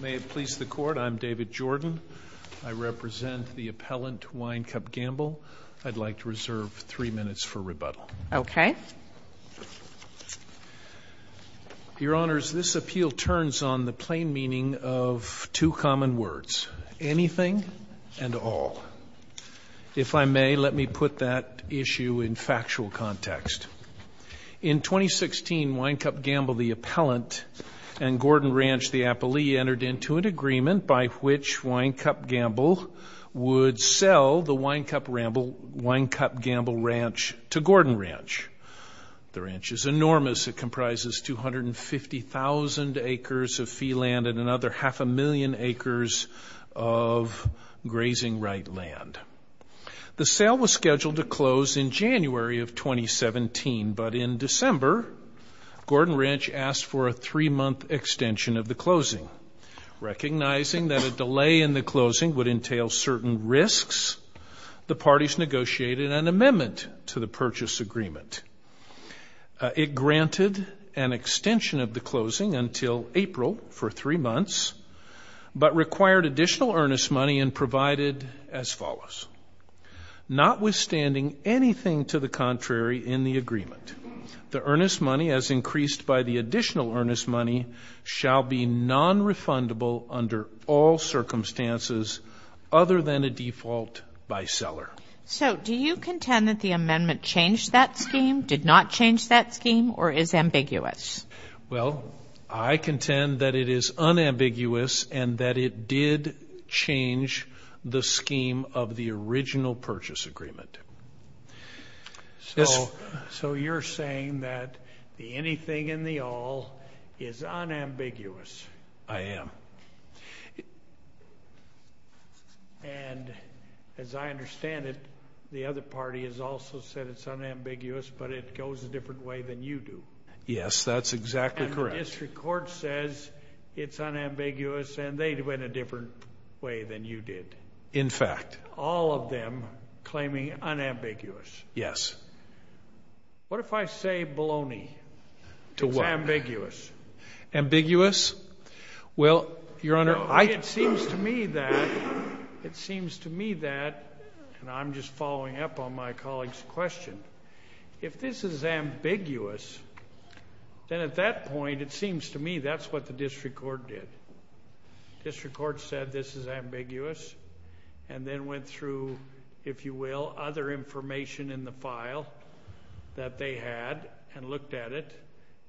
May it please the Court, I'm David Jordan. I represent the appellant Winecup Gamble. I'd like to reserve three minutes for rebuttal. Okay. Your Honors, this appeal turns on the plain meaning of two common words, anything and all. If I may, let me put that issue in factual context. In 2016, Winecup Gamble, the appellant, and Gordon Ranch, the appellee, entered into an agreement by which Winecup Gamble would sell the Winecup Gamble Ranch to Gordon Ranch. The ranch is enormous. It comprises 250,000 acres of fee land and another half a million acres of grazing right land. The sale was scheduled to close in January of 2017, but in December, Gordon Ranch asked for a three-month extension of the closing. Recognizing that a delay in the closing would entail certain risks, the parties negotiated an amendment to the purchase agreement. It granted an extension of the closing until April for three months, but required additional earnest money and provided as follows. Notwithstanding anything to the contrary in the agreement, the earnest money as increased by the additional earnest money shall be nonrefundable under all circumstances other than a default by seller. So, do you contend that the amendment changed that scheme, did not change that scheme, or is ambiguous? Well, I contend that it is unambiguous and that it did change the scheme of the original purchase agreement. So, you're saying that the anything and the all is unambiguous? I am. And, as I understand it, the other party has also said it's unambiguous, but it goes a different way than you do. Yes, that's exactly correct. And the district court says it's unambiguous and they went a different way than you did. In fact. All of them claiming unambiguous. Yes. To what? It's ambiguous. Ambiguous? Well, Your Honor, I. It seems to me that, it seems to me that, and I'm just following up on my colleague's question. If this is ambiguous, then at that point it seems to me that's what the district court did. District court said this is ambiguous and then went through, if you will, other information in the file that they had and looked at it.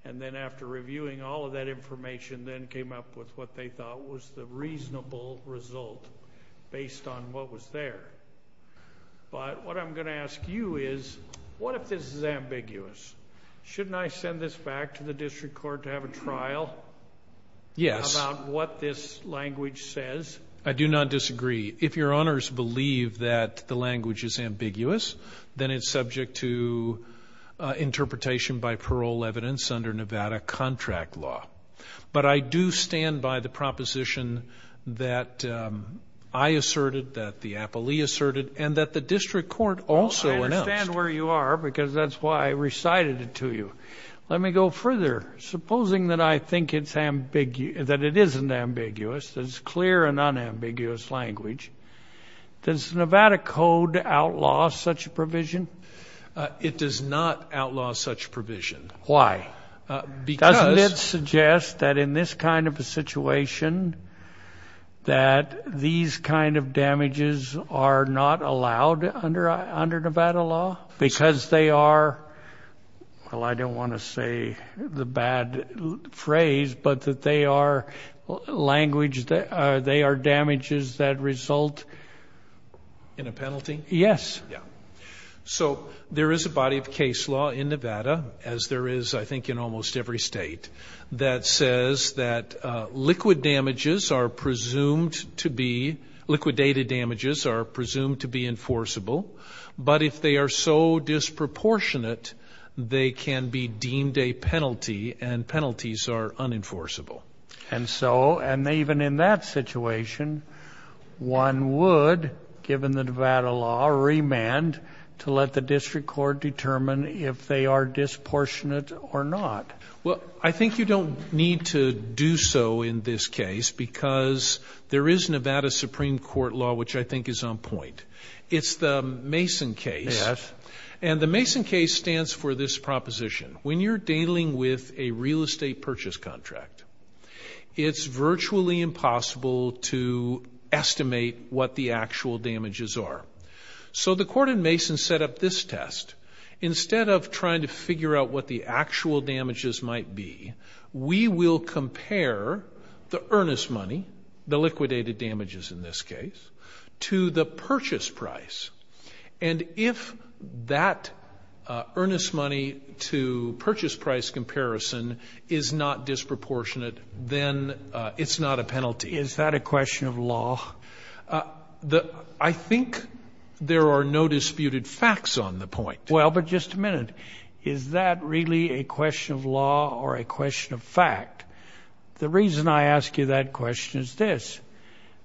And then after reviewing all of that information, then came up with what they thought was the reasonable result based on what was there. But, what I'm going to ask you is, what if this is ambiguous? Shouldn't I send this back to the district court to have a trial? Yes. About what this language says? I do not disagree. If Your Honors believe that the language is ambiguous, then it's subject to interpretation by parole evidence under Nevada contract law. But I do stand by the proposition that I asserted, that the appellee asserted, and that the district court also announced. I understand where you are because that's why I recited it to you. Let me go further. Supposing that I think it's ambiguous, that it isn't ambiguous, that it's clear and unambiguous language, does Nevada code outlaw such provision? It does not outlaw such provision. Why? Doesn't it suggest that in this kind of a situation, that these kind of damages are not allowed under Nevada law? Because they are, well I don't want to say the bad phrase, but that they are damages that result in a penalty? Yes. So there is a body of case law in Nevada, as there is I think in almost every state, that says that liquid damages are presumed to be, liquidated damages are presumed to be enforceable, but if they are so disproportionate, they can be deemed a penalty, and penalties are unenforceable. And so, and even in that situation, one would, given the Nevada law, remand to let the district court determine if they are disproportionate or not. Well, I think you don't need to do so in this case because there is Nevada Supreme Court law which I think is on point. It's the Mason case. Yes. And the Mason case stands for this proposition. When you're dealing with a real estate purchase contract, it's virtually impossible to estimate what the actual damages are. So the court in Mason set up this test. Instead of trying to figure out what the actual damages might be, we will compare the earnest money, the liquidated damages in this case, to the purchase price. And if that earnest money to purchase price comparison is not disproportionate, then it's not a penalty. Is that a question of law? I think there are no disputed facts on the point. Well, but just a minute. Is that really a question of law or a question of fact? The reason I ask you that question is this.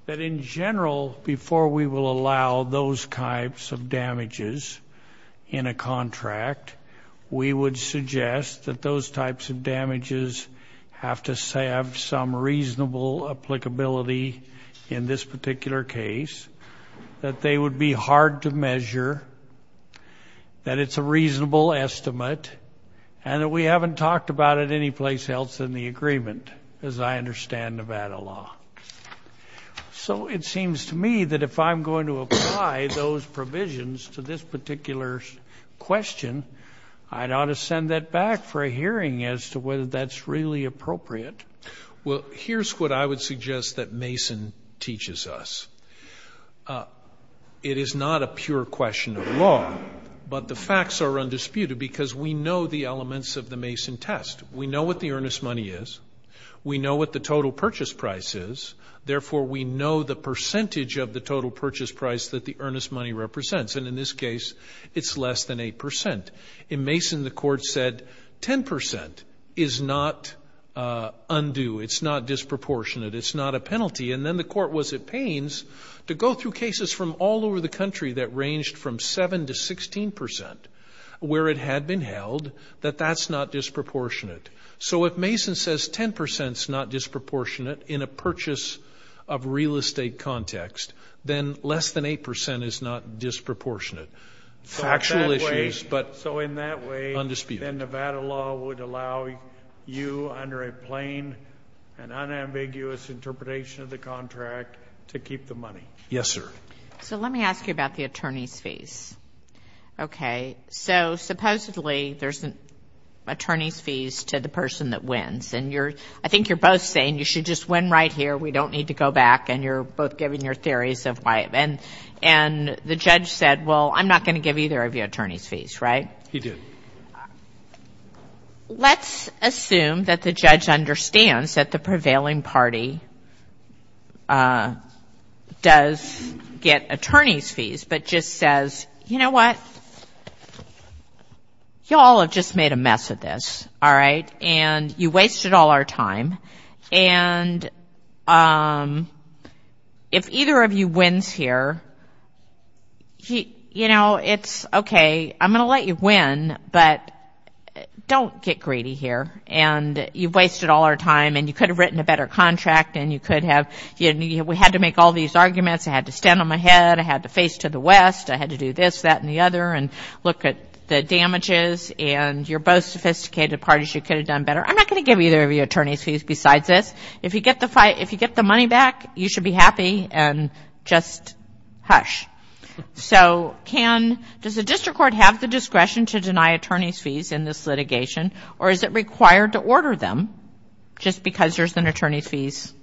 That in general, before we will allow those types of damages in a contract, we would suggest that those types of damages have to have some reasonable applicability in this particular case, that they would be hard to measure, that it's a reasonable estimate, and that we haven't talked about it any place else in the agreement, as I understand Nevada law. So it seems to me that if I'm going to apply those provisions to this particular question, I ought to send that back for a hearing as to whether that's really appropriate. Well, here's what I would suggest that Mason teaches us. It is not a pure question of law, but the facts are undisputed because we know the elements of the Mason test. We know what the earnest money is. We know what the total purchase price is. Therefore, we know the percentage of the total purchase price that the earnest money represents. And in this case, it's less than 8%. In Mason, the Court said 10% is not undue. It's not disproportionate. It's not a penalty. And then the Court was at pains to go through cases from all over the country that ranged from 7% to 16% where it had been held that that's not disproportionate. So if Mason says 10% is not disproportionate in a purchase of real estate context, then less than 8% is not disproportionate. Factual issues, but undisputed. And then Nevada law would allow you under a plain and unambiguous interpretation of the contract to keep the money. Yes, sir. So let me ask you about the attorney's fees. Okay. So supposedly there's an attorney's fees to the person that wins. And I think you're both saying you should just win right here, we don't need to go back, and you're both giving your theories of why. And the judge said, well, I'm not going to give either of you attorney's fees, right? He did. Let's assume that the judge understands that the prevailing party does get attorney's fees, but just says, you know what, you all have just made a mess of this, all right, and you wasted all our time. And if either of you wins here, you know, it's okay, I'm going to let you win, but don't get greedy here. And you've wasted all our time, and you could have written a better contract, and we had to make all these arguments, I had to stand on my head, I had to face to the west, I had to do this, that, and the other, and look at the damages, and you're both sophisticated parties, you could have done better. I'm not going to give either of you attorney's fees besides this. If you get the money back, you should be happy and just hush. So does the district court have the discretion to deny attorney's fees in this litigation, or is it required to order them just because there's an attorney's fees?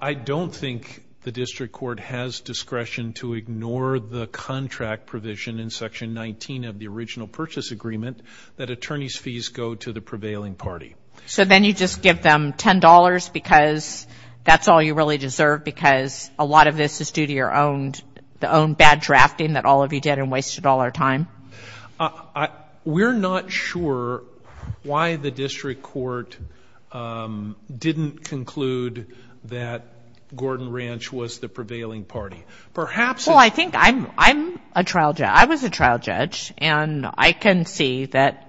I don't think the district court has discretion to ignore the contract provision in Section 19 of the original purchase agreement that attorney's fees go to the prevailing party. So then you just give them $10 because that's all you really deserve, because a lot of this is due to your own bad drafting that all of you did and wasted all our time? We're not sure why the district court didn't conclude that Gordon Ranch was the prevailing party. Well, I think I'm a trial judge. I was a trial judge, and I can see that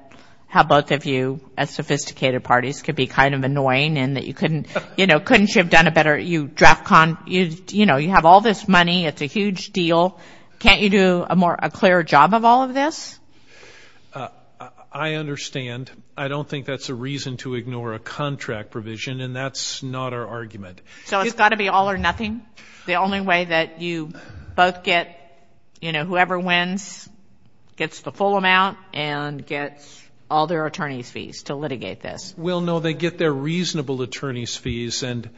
how both of you as sophisticated parties could be kind of annoying and that you couldn't, you know, couldn't you have done a better, you draft, you know, you have all this money, it's a huge deal, can't you do a clearer job of all of this? I understand. I don't think that's a reason to ignore a contract provision, and that's not our argument. So it's got to be all or nothing? The only way that you both get, you know, whoever wins gets the full amount and gets all their attorney's fees to litigate this? Well, no, they get their reasonable attorney's fees, and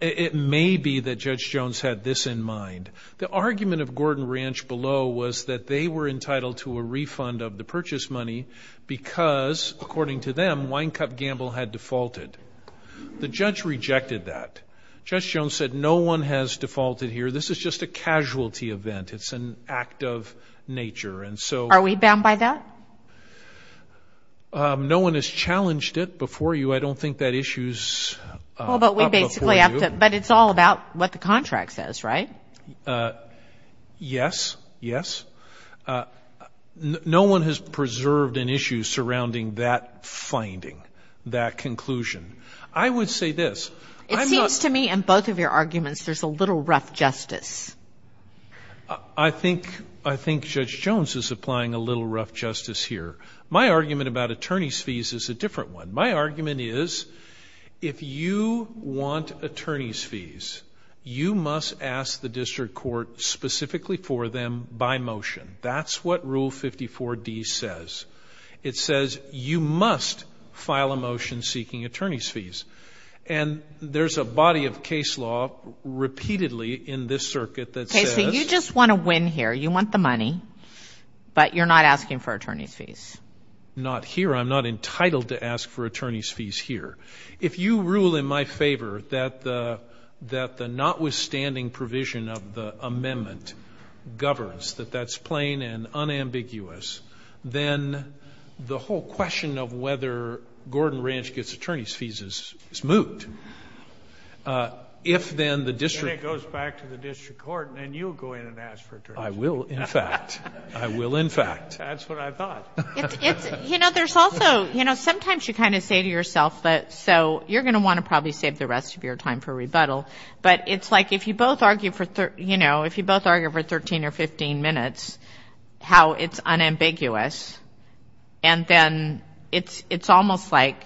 it may be that Judge Jones had this in mind. The argument of Gordon Ranch below was that they were entitled to a refund of the purchase money because, according to them, Wine Cup Gamble had defaulted. The judge rejected that. Judge Jones said no one has defaulted here. This is just a casualty event. It's an act of nature. Are we bound by that? No one has challenged it before you. I don't think that issue is up before you. But it's all about what the contract says, right? Yes, yes. No one has preserved an issue surrounding that finding, that conclusion. I would say this. It seems to me in both of your arguments there's a little rough justice. I think Judge Jones is applying a little rough justice here. My argument about attorney's fees is a different one. My argument is if you want attorney's fees, you must ask the district court specifically for them by motion. That's what Rule 54D says. It says you must file a motion seeking attorney's fees. And there's a body of case law repeatedly in this circuit that says you just want to win here. You want the money, but you're not asking for attorney's fees. Not here. I'm not entitled to ask for attorney's fees here. If you rule in my favor that the notwithstanding provision of the amendment governs, that that's plain and unambiguous, then the whole question of whether Gordon Ranch gets attorney's fees is moot. If then the district. Then it goes back to the district court, and then you go in and ask for attorney's fees. I will, in fact. I will, in fact. That's what I thought. You know, there's also, you know, sometimes you kind of say to yourself, so you're going to want to probably save the rest of your time for rebuttal. But it's like if you both argue for, you know, if you both argue for 13 or 15 minutes how it's unambiguous, and then it's almost like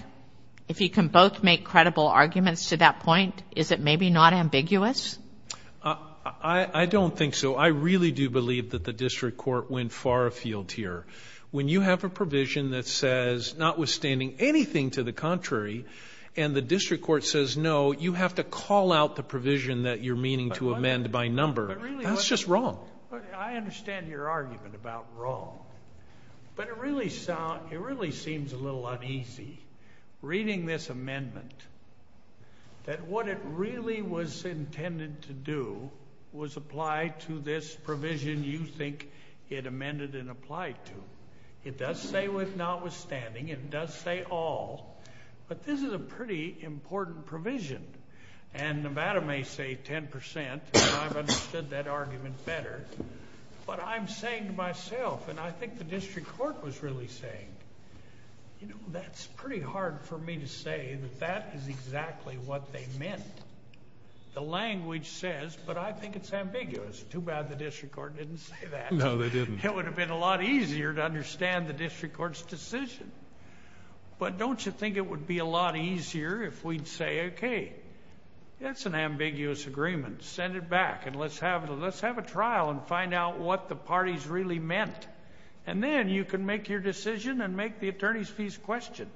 if you can both make credible arguments to that point, is it maybe not ambiguous? I don't think so. I really do believe that the district court went far afield here. When you have a provision that says, notwithstanding anything to the contrary, and the district court says, no, you have to call out the provision that you're meaning to amend by number, that's just wrong. I understand your argument about wrong. But it really seems a little uneasy, reading this amendment, that what it really was intended to do was apply to this provision you think it amended and applied to. It does say with notwithstanding. It does say all. But this is a pretty important provision. And Nevada may say 10%, and I've understood that argument better. But I'm saying to myself, and I think the district court was really saying, you know, that's pretty hard for me to say that that is exactly what they meant. The language says, but I think it's ambiguous. Too bad the district court didn't say that. No, they didn't. It would have been a lot easier to understand the district court's decision. But don't you think it would be a lot easier if we'd say, okay, that's an ambiguous agreement. Send it back, and let's have a trial and find out what the parties really meant. And then you can make your decision and make the attorney's fees question.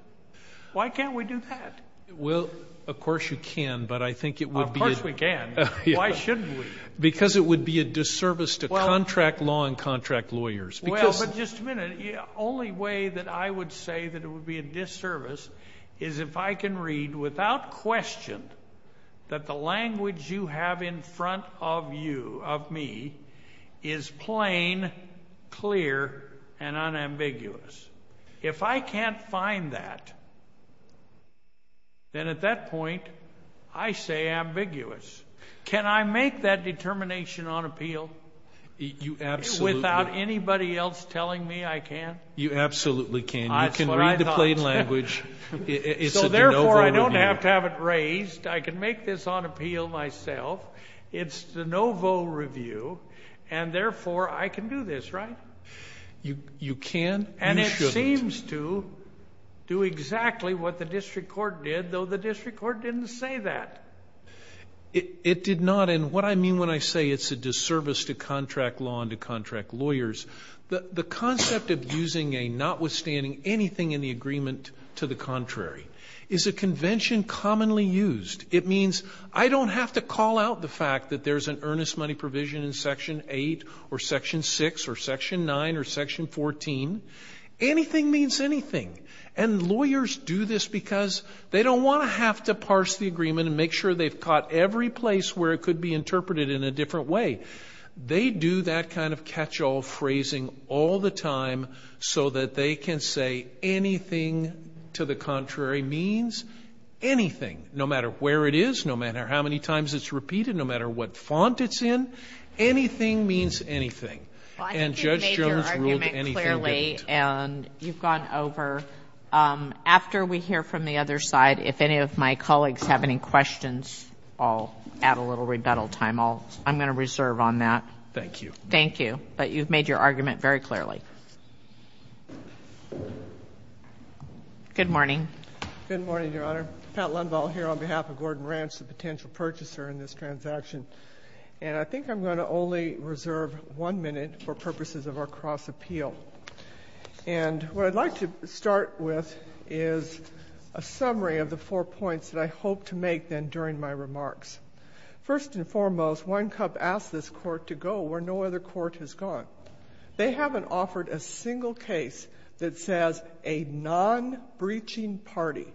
Why can't we do that? Well, of course you can, but I think it would be a... Of course we can. Why shouldn't we? Because it would be a disservice to contract law and contract lawyers. Well, but just a minute. The only way that I would say that it would be a disservice is if I can read without question that the language you have in front of you, of me, is plain, clear, and unambiguous. If I can't find that, then at that point I say ambiguous. Can I make that determination on appeal without anybody else telling me I can? You absolutely can. That's what I thought. You can read the plain language. So therefore I don't have to have it raised. I can make this on appeal myself. It's de novo review, and therefore I can do this, right? You can. You shouldn't. do exactly what the district court did, though the district court didn't say that. It did not, and what I mean when I say it's a disservice to contract law and to contract lawyers, the concept of using a notwithstanding anything in the agreement to the contrary is a convention commonly used. It means I don't have to call out the fact that there's an earnest money provision in Section 8 or Section 6 or Section 9 or Section 14. Anything means anything, and lawyers do this because they don't want to have to parse the agreement and make sure they've caught every place where it could be interpreted in a different way. They do that kind of catch-all phrasing all the time so that they can say anything to the contrary means anything, no matter where it is, no matter how many times it's repeated, no matter what font it's in. Anything means anything. And Judge Jones ruled anything didn't. Well, I think you've made your argument clearly, and you've gone over. After we hear from the other side, if any of my colleagues have any questions, I'll add a little rebuttal time. I'm going to reserve on that. Thank you. Thank you. But you've made your argument very clearly. Good morning. Good morning, Your Honor. Pat Lundvall here on behalf of Gordon Ranch, the potential purchaser in this transaction. And I think I'm going to only reserve one minute for purposes of our cross-appeal. And what I'd like to start with is a summary of the four points that I hope to make then during my remarks. First and foremost, One Cup asked this court to go where no other court has gone. They haven't offered a single case that says a non-breaching party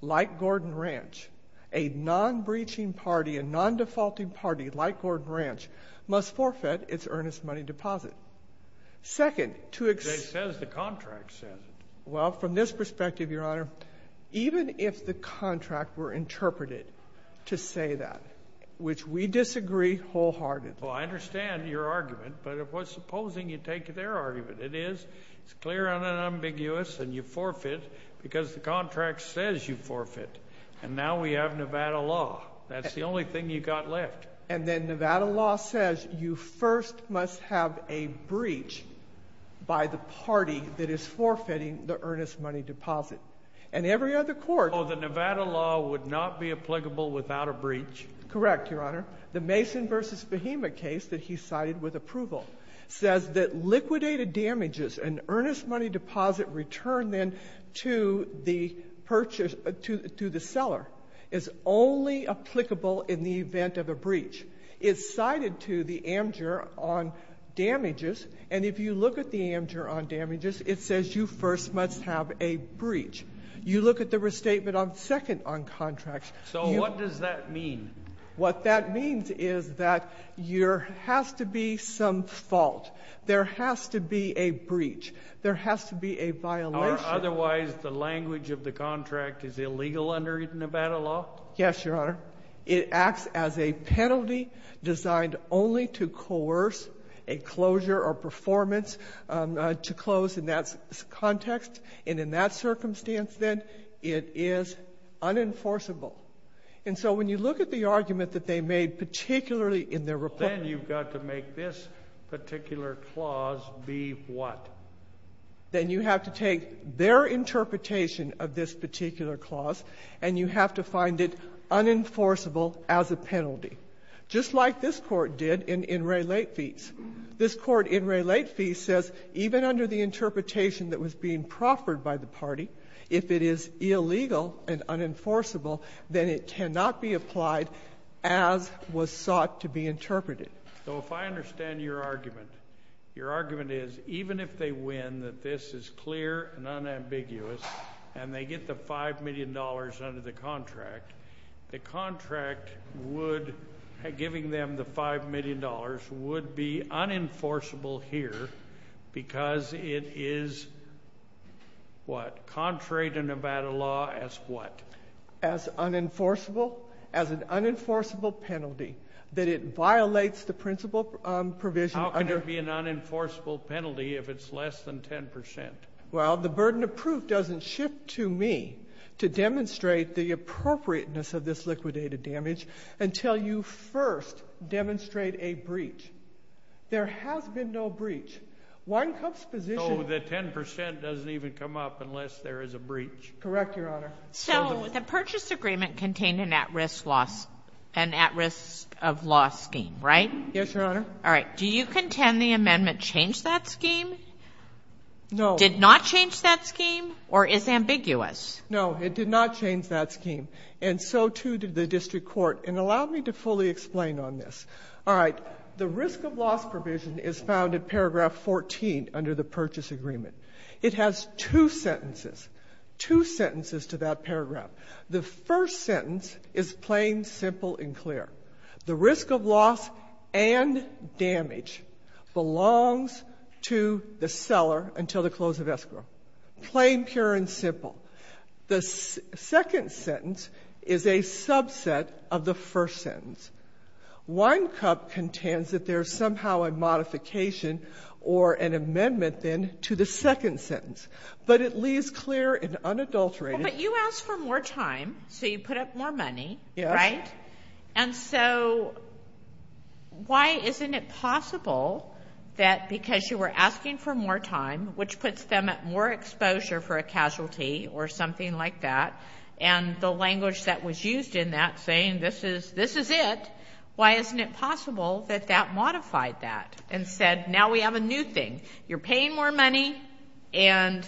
like Gordon Ranch, a non-breaching party, a non-defaulting party like Gordon Ranch, must forfeit its earnest money deposit. Second, to ex- It says the contract says it. Well, from this perspective, Your Honor, even if the contract were interpreted to say that, which we disagree wholeheartedly. Well, I understand your argument. But supposing you take their argument. It is clear and unambiguous, and you forfeit because the contract says you forfeit. And now we have Nevada law. That's the only thing you've got left. And then Nevada law says you first must have a breach by the party that is forfeiting the earnest money deposit. And every other court- Oh, the Nevada law would not be applicable without a breach. Correct, Your Honor. The Mason v. Behema case that he cited with approval says that liquidated damages and earnest money deposit returned then to the purchase- to the seller is only applicable in the event of a breach. It's cited to the amgur on damages. And if you look at the amgur on damages, it says you first must have a breach. You look at the restatement second on contracts- So what does that mean? What that means is that there has to be some fault. There has to be a breach. There has to be a violation. Otherwise, the language of the contract is illegal under Nevada law? Yes, Your Honor. It acts as a penalty designed only to coerce a closure or performance to close in that context. And in that circumstance, then, it is unenforceable. And so when you look at the argument that they made particularly in their report- Then you've got to make this particular clause be what? Then you have to take their interpretation of this particular clause, and you have to find it unenforceable as a penalty. Just like this Court did in In re late fees. This Court in re late fees says even under the interpretation that was being proffered by the party, if it is illegal and unenforceable, then it cannot be applied as was sought to be interpreted. So if I understand your argument, your argument is even if they win, that this is clear and unambiguous, and they get the $5 million under the contract, the contract would, giving them the $5 million, would be unenforceable here because it is what? Contrary to Nevada law as what? As unenforceable, as an unenforceable penalty. That it violates the principle provision under- How can it be an unenforceable penalty if it's less than 10%? Well, the burden of proof doesn't shift to me to demonstrate the appropriateness of this liquidated damage until you first demonstrate a breach. There has been no breach. Wine Cup's position- Oh, the 10% doesn't even come up unless there is a breach. Correct, Your Honor. So the purchase agreement contained an at-risk loss, an at-risk of loss scheme, right? Yes, Your Honor. All right. Do you contend the amendment changed that scheme? No. Did not change that scheme or is ambiguous? No, it did not change that scheme, and so too did the district court. And allow me to fully explain on this. All right, the risk of loss provision is found in paragraph 14 under the purchase agreement. It has two sentences, two sentences to that paragraph. The first sentence is plain, simple, and clear. The risk of loss and damage belongs to the seller until the close of escrow. Plain, pure, and simple. The second sentence is a subset of the first sentence. Wine Cup contends that there is somehow a modification or an amendment then to the second sentence, but it leaves clear and unadulterated- But you asked for more time, so you put up more money, right? And so why isn't it possible that because you were asking for more time, which puts them at more exposure for a casualty or something like that, and the language that was used in that saying this is it, why isn't it possible that that modified that and said now we have a new thing? You're paying more money and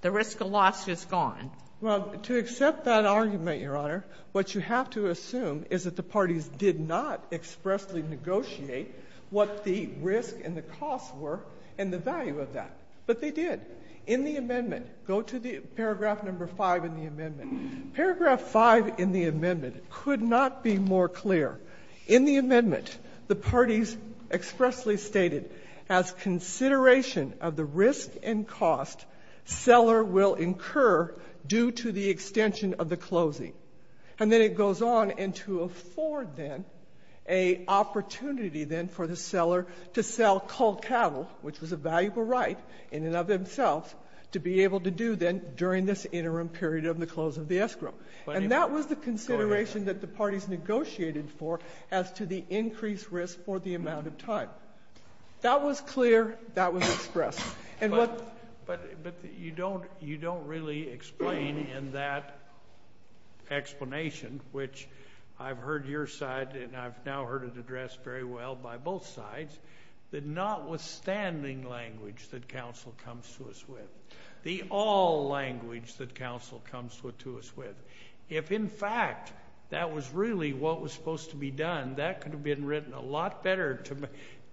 the risk of loss is gone. Well, to accept that argument, Your Honor, what you have to assume is that the parties did not expressly negotiate what the risk and the cost were and the value of that, but they did. In the amendment, go to the paragraph number 5 in the amendment. Paragraph 5 in the amendment could not be more clear. In the amendment, the parties expressly stated, as consideration of the risk and cost, seller will incur due to the extension of the closing. And then it goes on, and to afford, then, a opportunity, then, for the seller to sell culled cattle, which was a valuable right in and of themselves, to be able to do then during this interim period of the close of the escrow. And that was the consideration that the parties negotiated for as to the increased risk for the amount of time. That was clear. That was expressed. But you don't really explain in that explanation, which I've heard your side and I've now heard it addressed very well by both sides, the notwithstanding language that counsel comes to us with, the all language that counsel comes to us with. If, in fact, that was really what was supposed to be done, that could have been written a lot better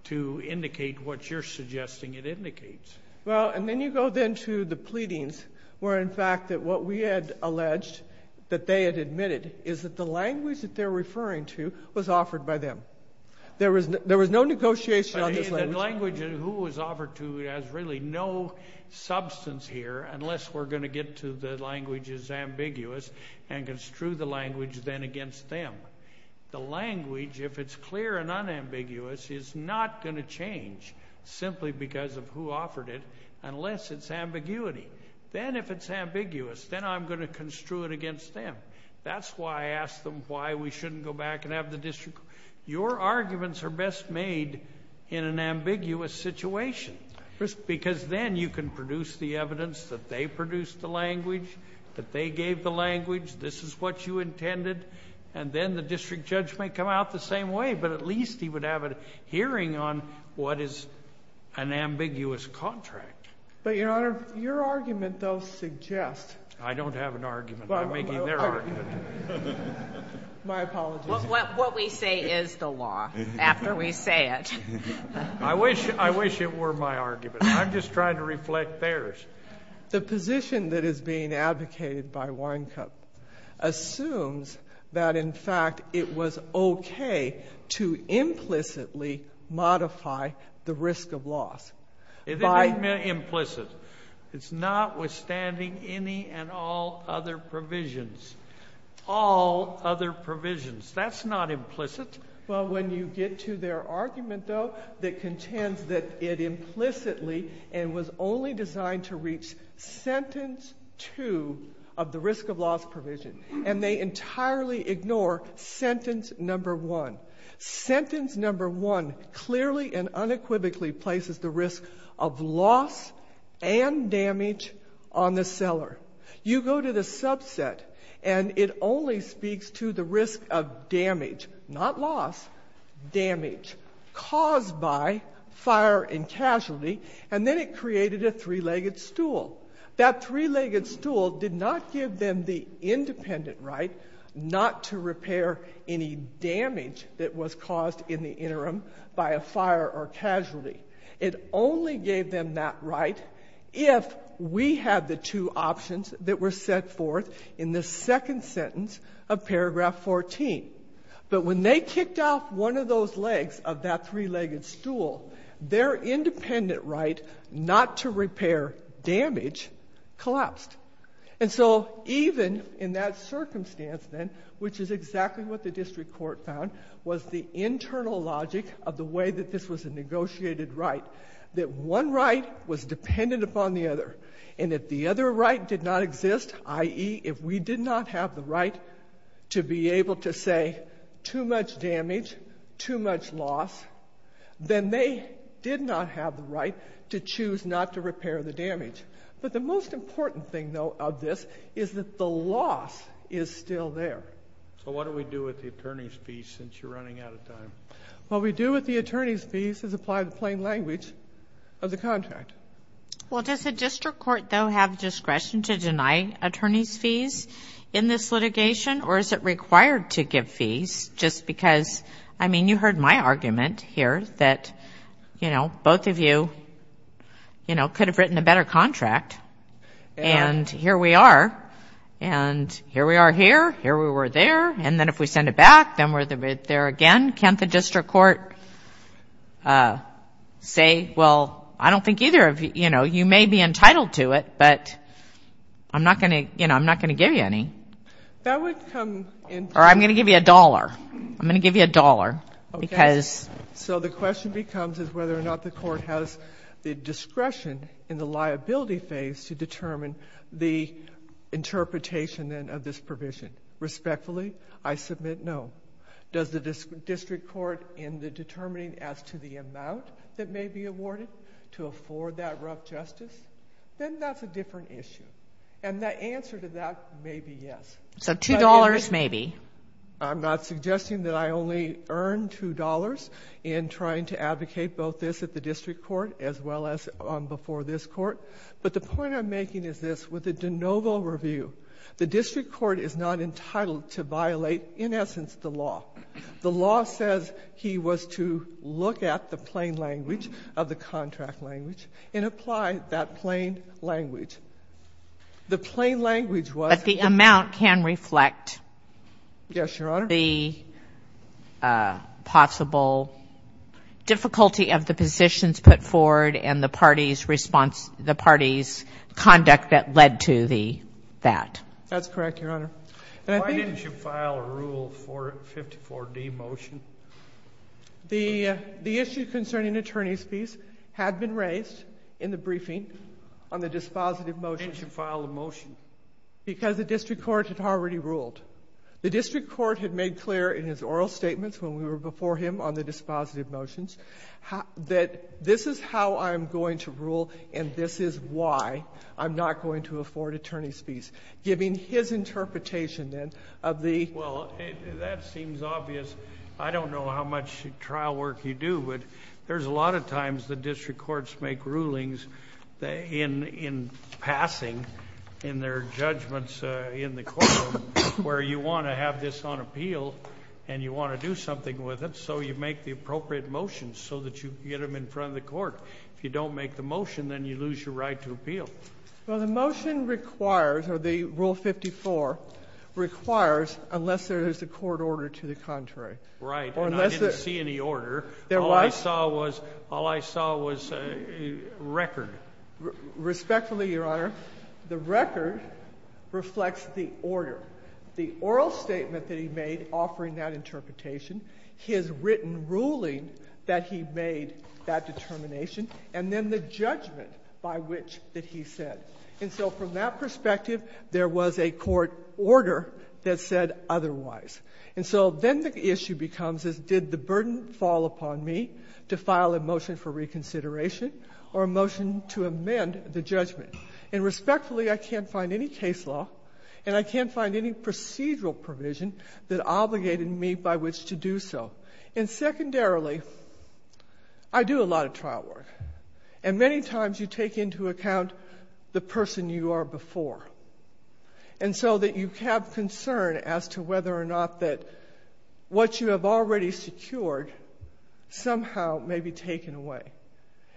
to indicate what you're suggesting it indicates. Well, and then you go then to the pleadings, where in fact what we had alleged that they had admitted is that the language that they're referring to was offered by them. There was no negotiation on this language. The language of who it was offered to has really no substance here, unless we're going to get to the language is ambiguous and construe the language then against them. The language, if it's clear and unambiguous, is not going to change simply because of who offered it unless it's ambiguity. Then if it's ambiguous, then I'm going to construe it against them. That's why I asked them why we shouldn't go back and have the district. Your arguments are best made in an ambiguous situation because then you can produce the evidence that they produced the language, that they gave the language, this is what you intended, and then the district judge may come out the same way, but at least he would have a hearing on what is an ambiguous contract. But, Your Honor, your argument, though, suggests I don't have an argument. I'm making their argument. My apologies. What we say is the law after we say it. I wish it were my argument. I'm just trying to reflect theirs. The position that is being advocated by Winecup assumes that, in fact, it was okay to implicitly modify the risk of loss. It is implicit. It's notwithstanding any and all other provisions. All other provisions. That's not implicit. Well, when you get to their argument, though, that contends that it implicitly and was only designed to reach sentence two of the risk of loss provision, and they entirely ignore sentence number one. Sentence number one clearly and unequivocally places the risk of loss and damage on the seller. You go to the subset, and it only speaks to the risk of damage, not loss, damage caused by fire and casualty, and then it created a three-legged stool. That three-legged stool did not give them the independent right not to repair any damage that was caused in the interim by a fire or casualty. It only gave them that right if we had the two options that were set forth in the second sentence of paragraph 14. But when they kicked off one of those legs of that three-legged stool, their independent right not to repair damage collapsed. And so even in that circumstance then, which is exactly what the district court found, was the internal logic of the way that this was a negotiated right, that one right was dependent upon the other, and if the other right did not exist, i.e., if we did not have the right to be able to say too much damage, too much loss, then they did not have the right to choose not to repair the damage. But the most important thing, though, of this is that the loss is still there. So what do we do with the attorney's fees since you're running out of time? What we do with the attorney's fees is apply the plain language of the contract. Well, does the district court, though, have discretion to deny attorney's fees in this litigation, or is it required to give fees just because, I mean, you heard my argument here that, you know, both of you could have written a better contract, and here we are. And here we are here, here we were there, and then if we send it back, then we're there again. Can't the district court say, well, I don't think either of you, you know, you may be entitled to it, but I'm not going to, you know, I'm not going to give you any. That would come in. Or I'm going to give you a dollar. I'm going to give you a dollar because. So the question becomes is whether or not the court has the discretion in the liability phase to determine the interpretation, then, of this provision. Respectfully, I submit no. Does the district court in the determining as to the amount that may be awarded to afford that rough justice? Then that's a different issue. And the answer to that may be yes. So $2.00 maybe. I'm not suggesting that I only earn $2.00 in trying to advocate both this at the district court as well as before this court. But the point I'm making is this, with the de novo review, the district court is not entitled to violate, in essence, the law. The law says he was to look at the plain language of the contract language and apply that plain language. The plain language was that the amount can reflect the possible difficulty of the positions put forward and the party's response, the party's conduct that That's correct, Your Honor. Why didn't you file a Rule 54D motion? The issue concerning attorney's fees had been raised in the briefing on the dispositive motions. Why didn't you file a motion? Because the district court had already ruled. The district court had made clear in his oral statements when we were before him on the dispositive motions that this is how I'm going to rule and this is why I'm not going to afford attorney's fees, giving his interpretation of the Well, that seems obvious. I don't know how much trial work you do, but there's a lot of times the district courts make rulings in passing in their judgments in the court where you want to have this on appeal and you want to do something with it so you make the appropriate motions so that you get them in front of the court. If you don't make the motion, then you lose your right to appeal. Well, the motion requires, or the Rule 54 requires, unless there is a court order to the contrary. Right, and I didn't see any order. All I saw was record. Respectfully, Your Honor, the record reflects the order. The oral statement that he made offering that interpretation, his written ruling that he made that determination, and then the judgment by which that he said. And so from that perspective, there was a court order that said otherwise. And so then the issue becomes is did the burden fall upon me to file a motion for reconsideration or a motion to amend the judgment? And respectfully, I can't find any case law and I can't find any procedural provision that obligated me by which to do so. And secondarily, I do a lot of trial work. And many times you take into account the person you are before. And so that you have concern as to whether or not that what you have already secured somehow may be taken away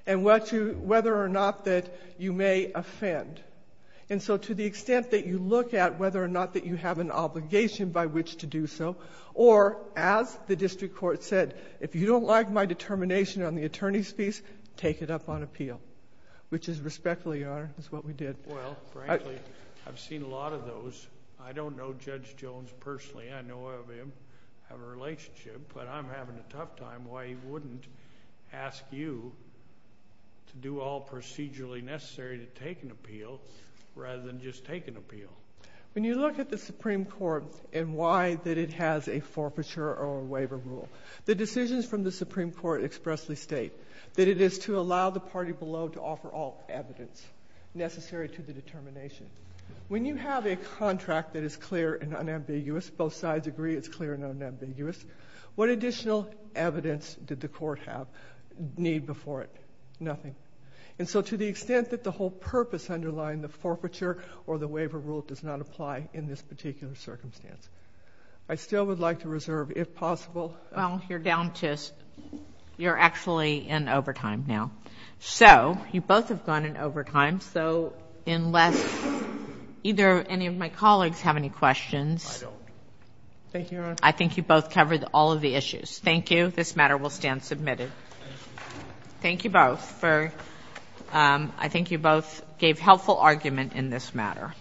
and whether or not that you may offend. And so to the extent that you look at whether or not that you have an obligation by which to do so or as the district court said, if you don't like my determination on the attorney's piece, take it up on appeal, which is respectfully, Your Honor, is what we did. Well, frankly, I've seen a lot of those. I don't know Judge Jones personally. I know of him, have a relationship, but I'm having a tough time why he wouldn't ask you to do all procedurally necessary to take an appeal rather than just take an appeal. When you look at the Supreme Court and why that it has a forfeiture or waiver rule, the decisions from the Supreme Court expressly state that it is to allow the party below to offer all evidence necessary to the determination. When you have a contract that is clear and unambiguous, both sides agree it's clear and unambiguous, what additional evidence did the court have, need before it? Nothing. And so to the extent that the whole purpose underlying the forfeiture or the waiver rule does not apply in this particular circumstance, I still would like to reserve, if possible. Well, you're down to, you're actually in overtime now. So you both have gone in overtime, so unless either any of my colleagues have any questions. I don't. Thank you, Your Honor. I think you both covered all of the issues. Thank you. This matter will stand submitted. Thank you both. I think you both gave helpful argument in this matter.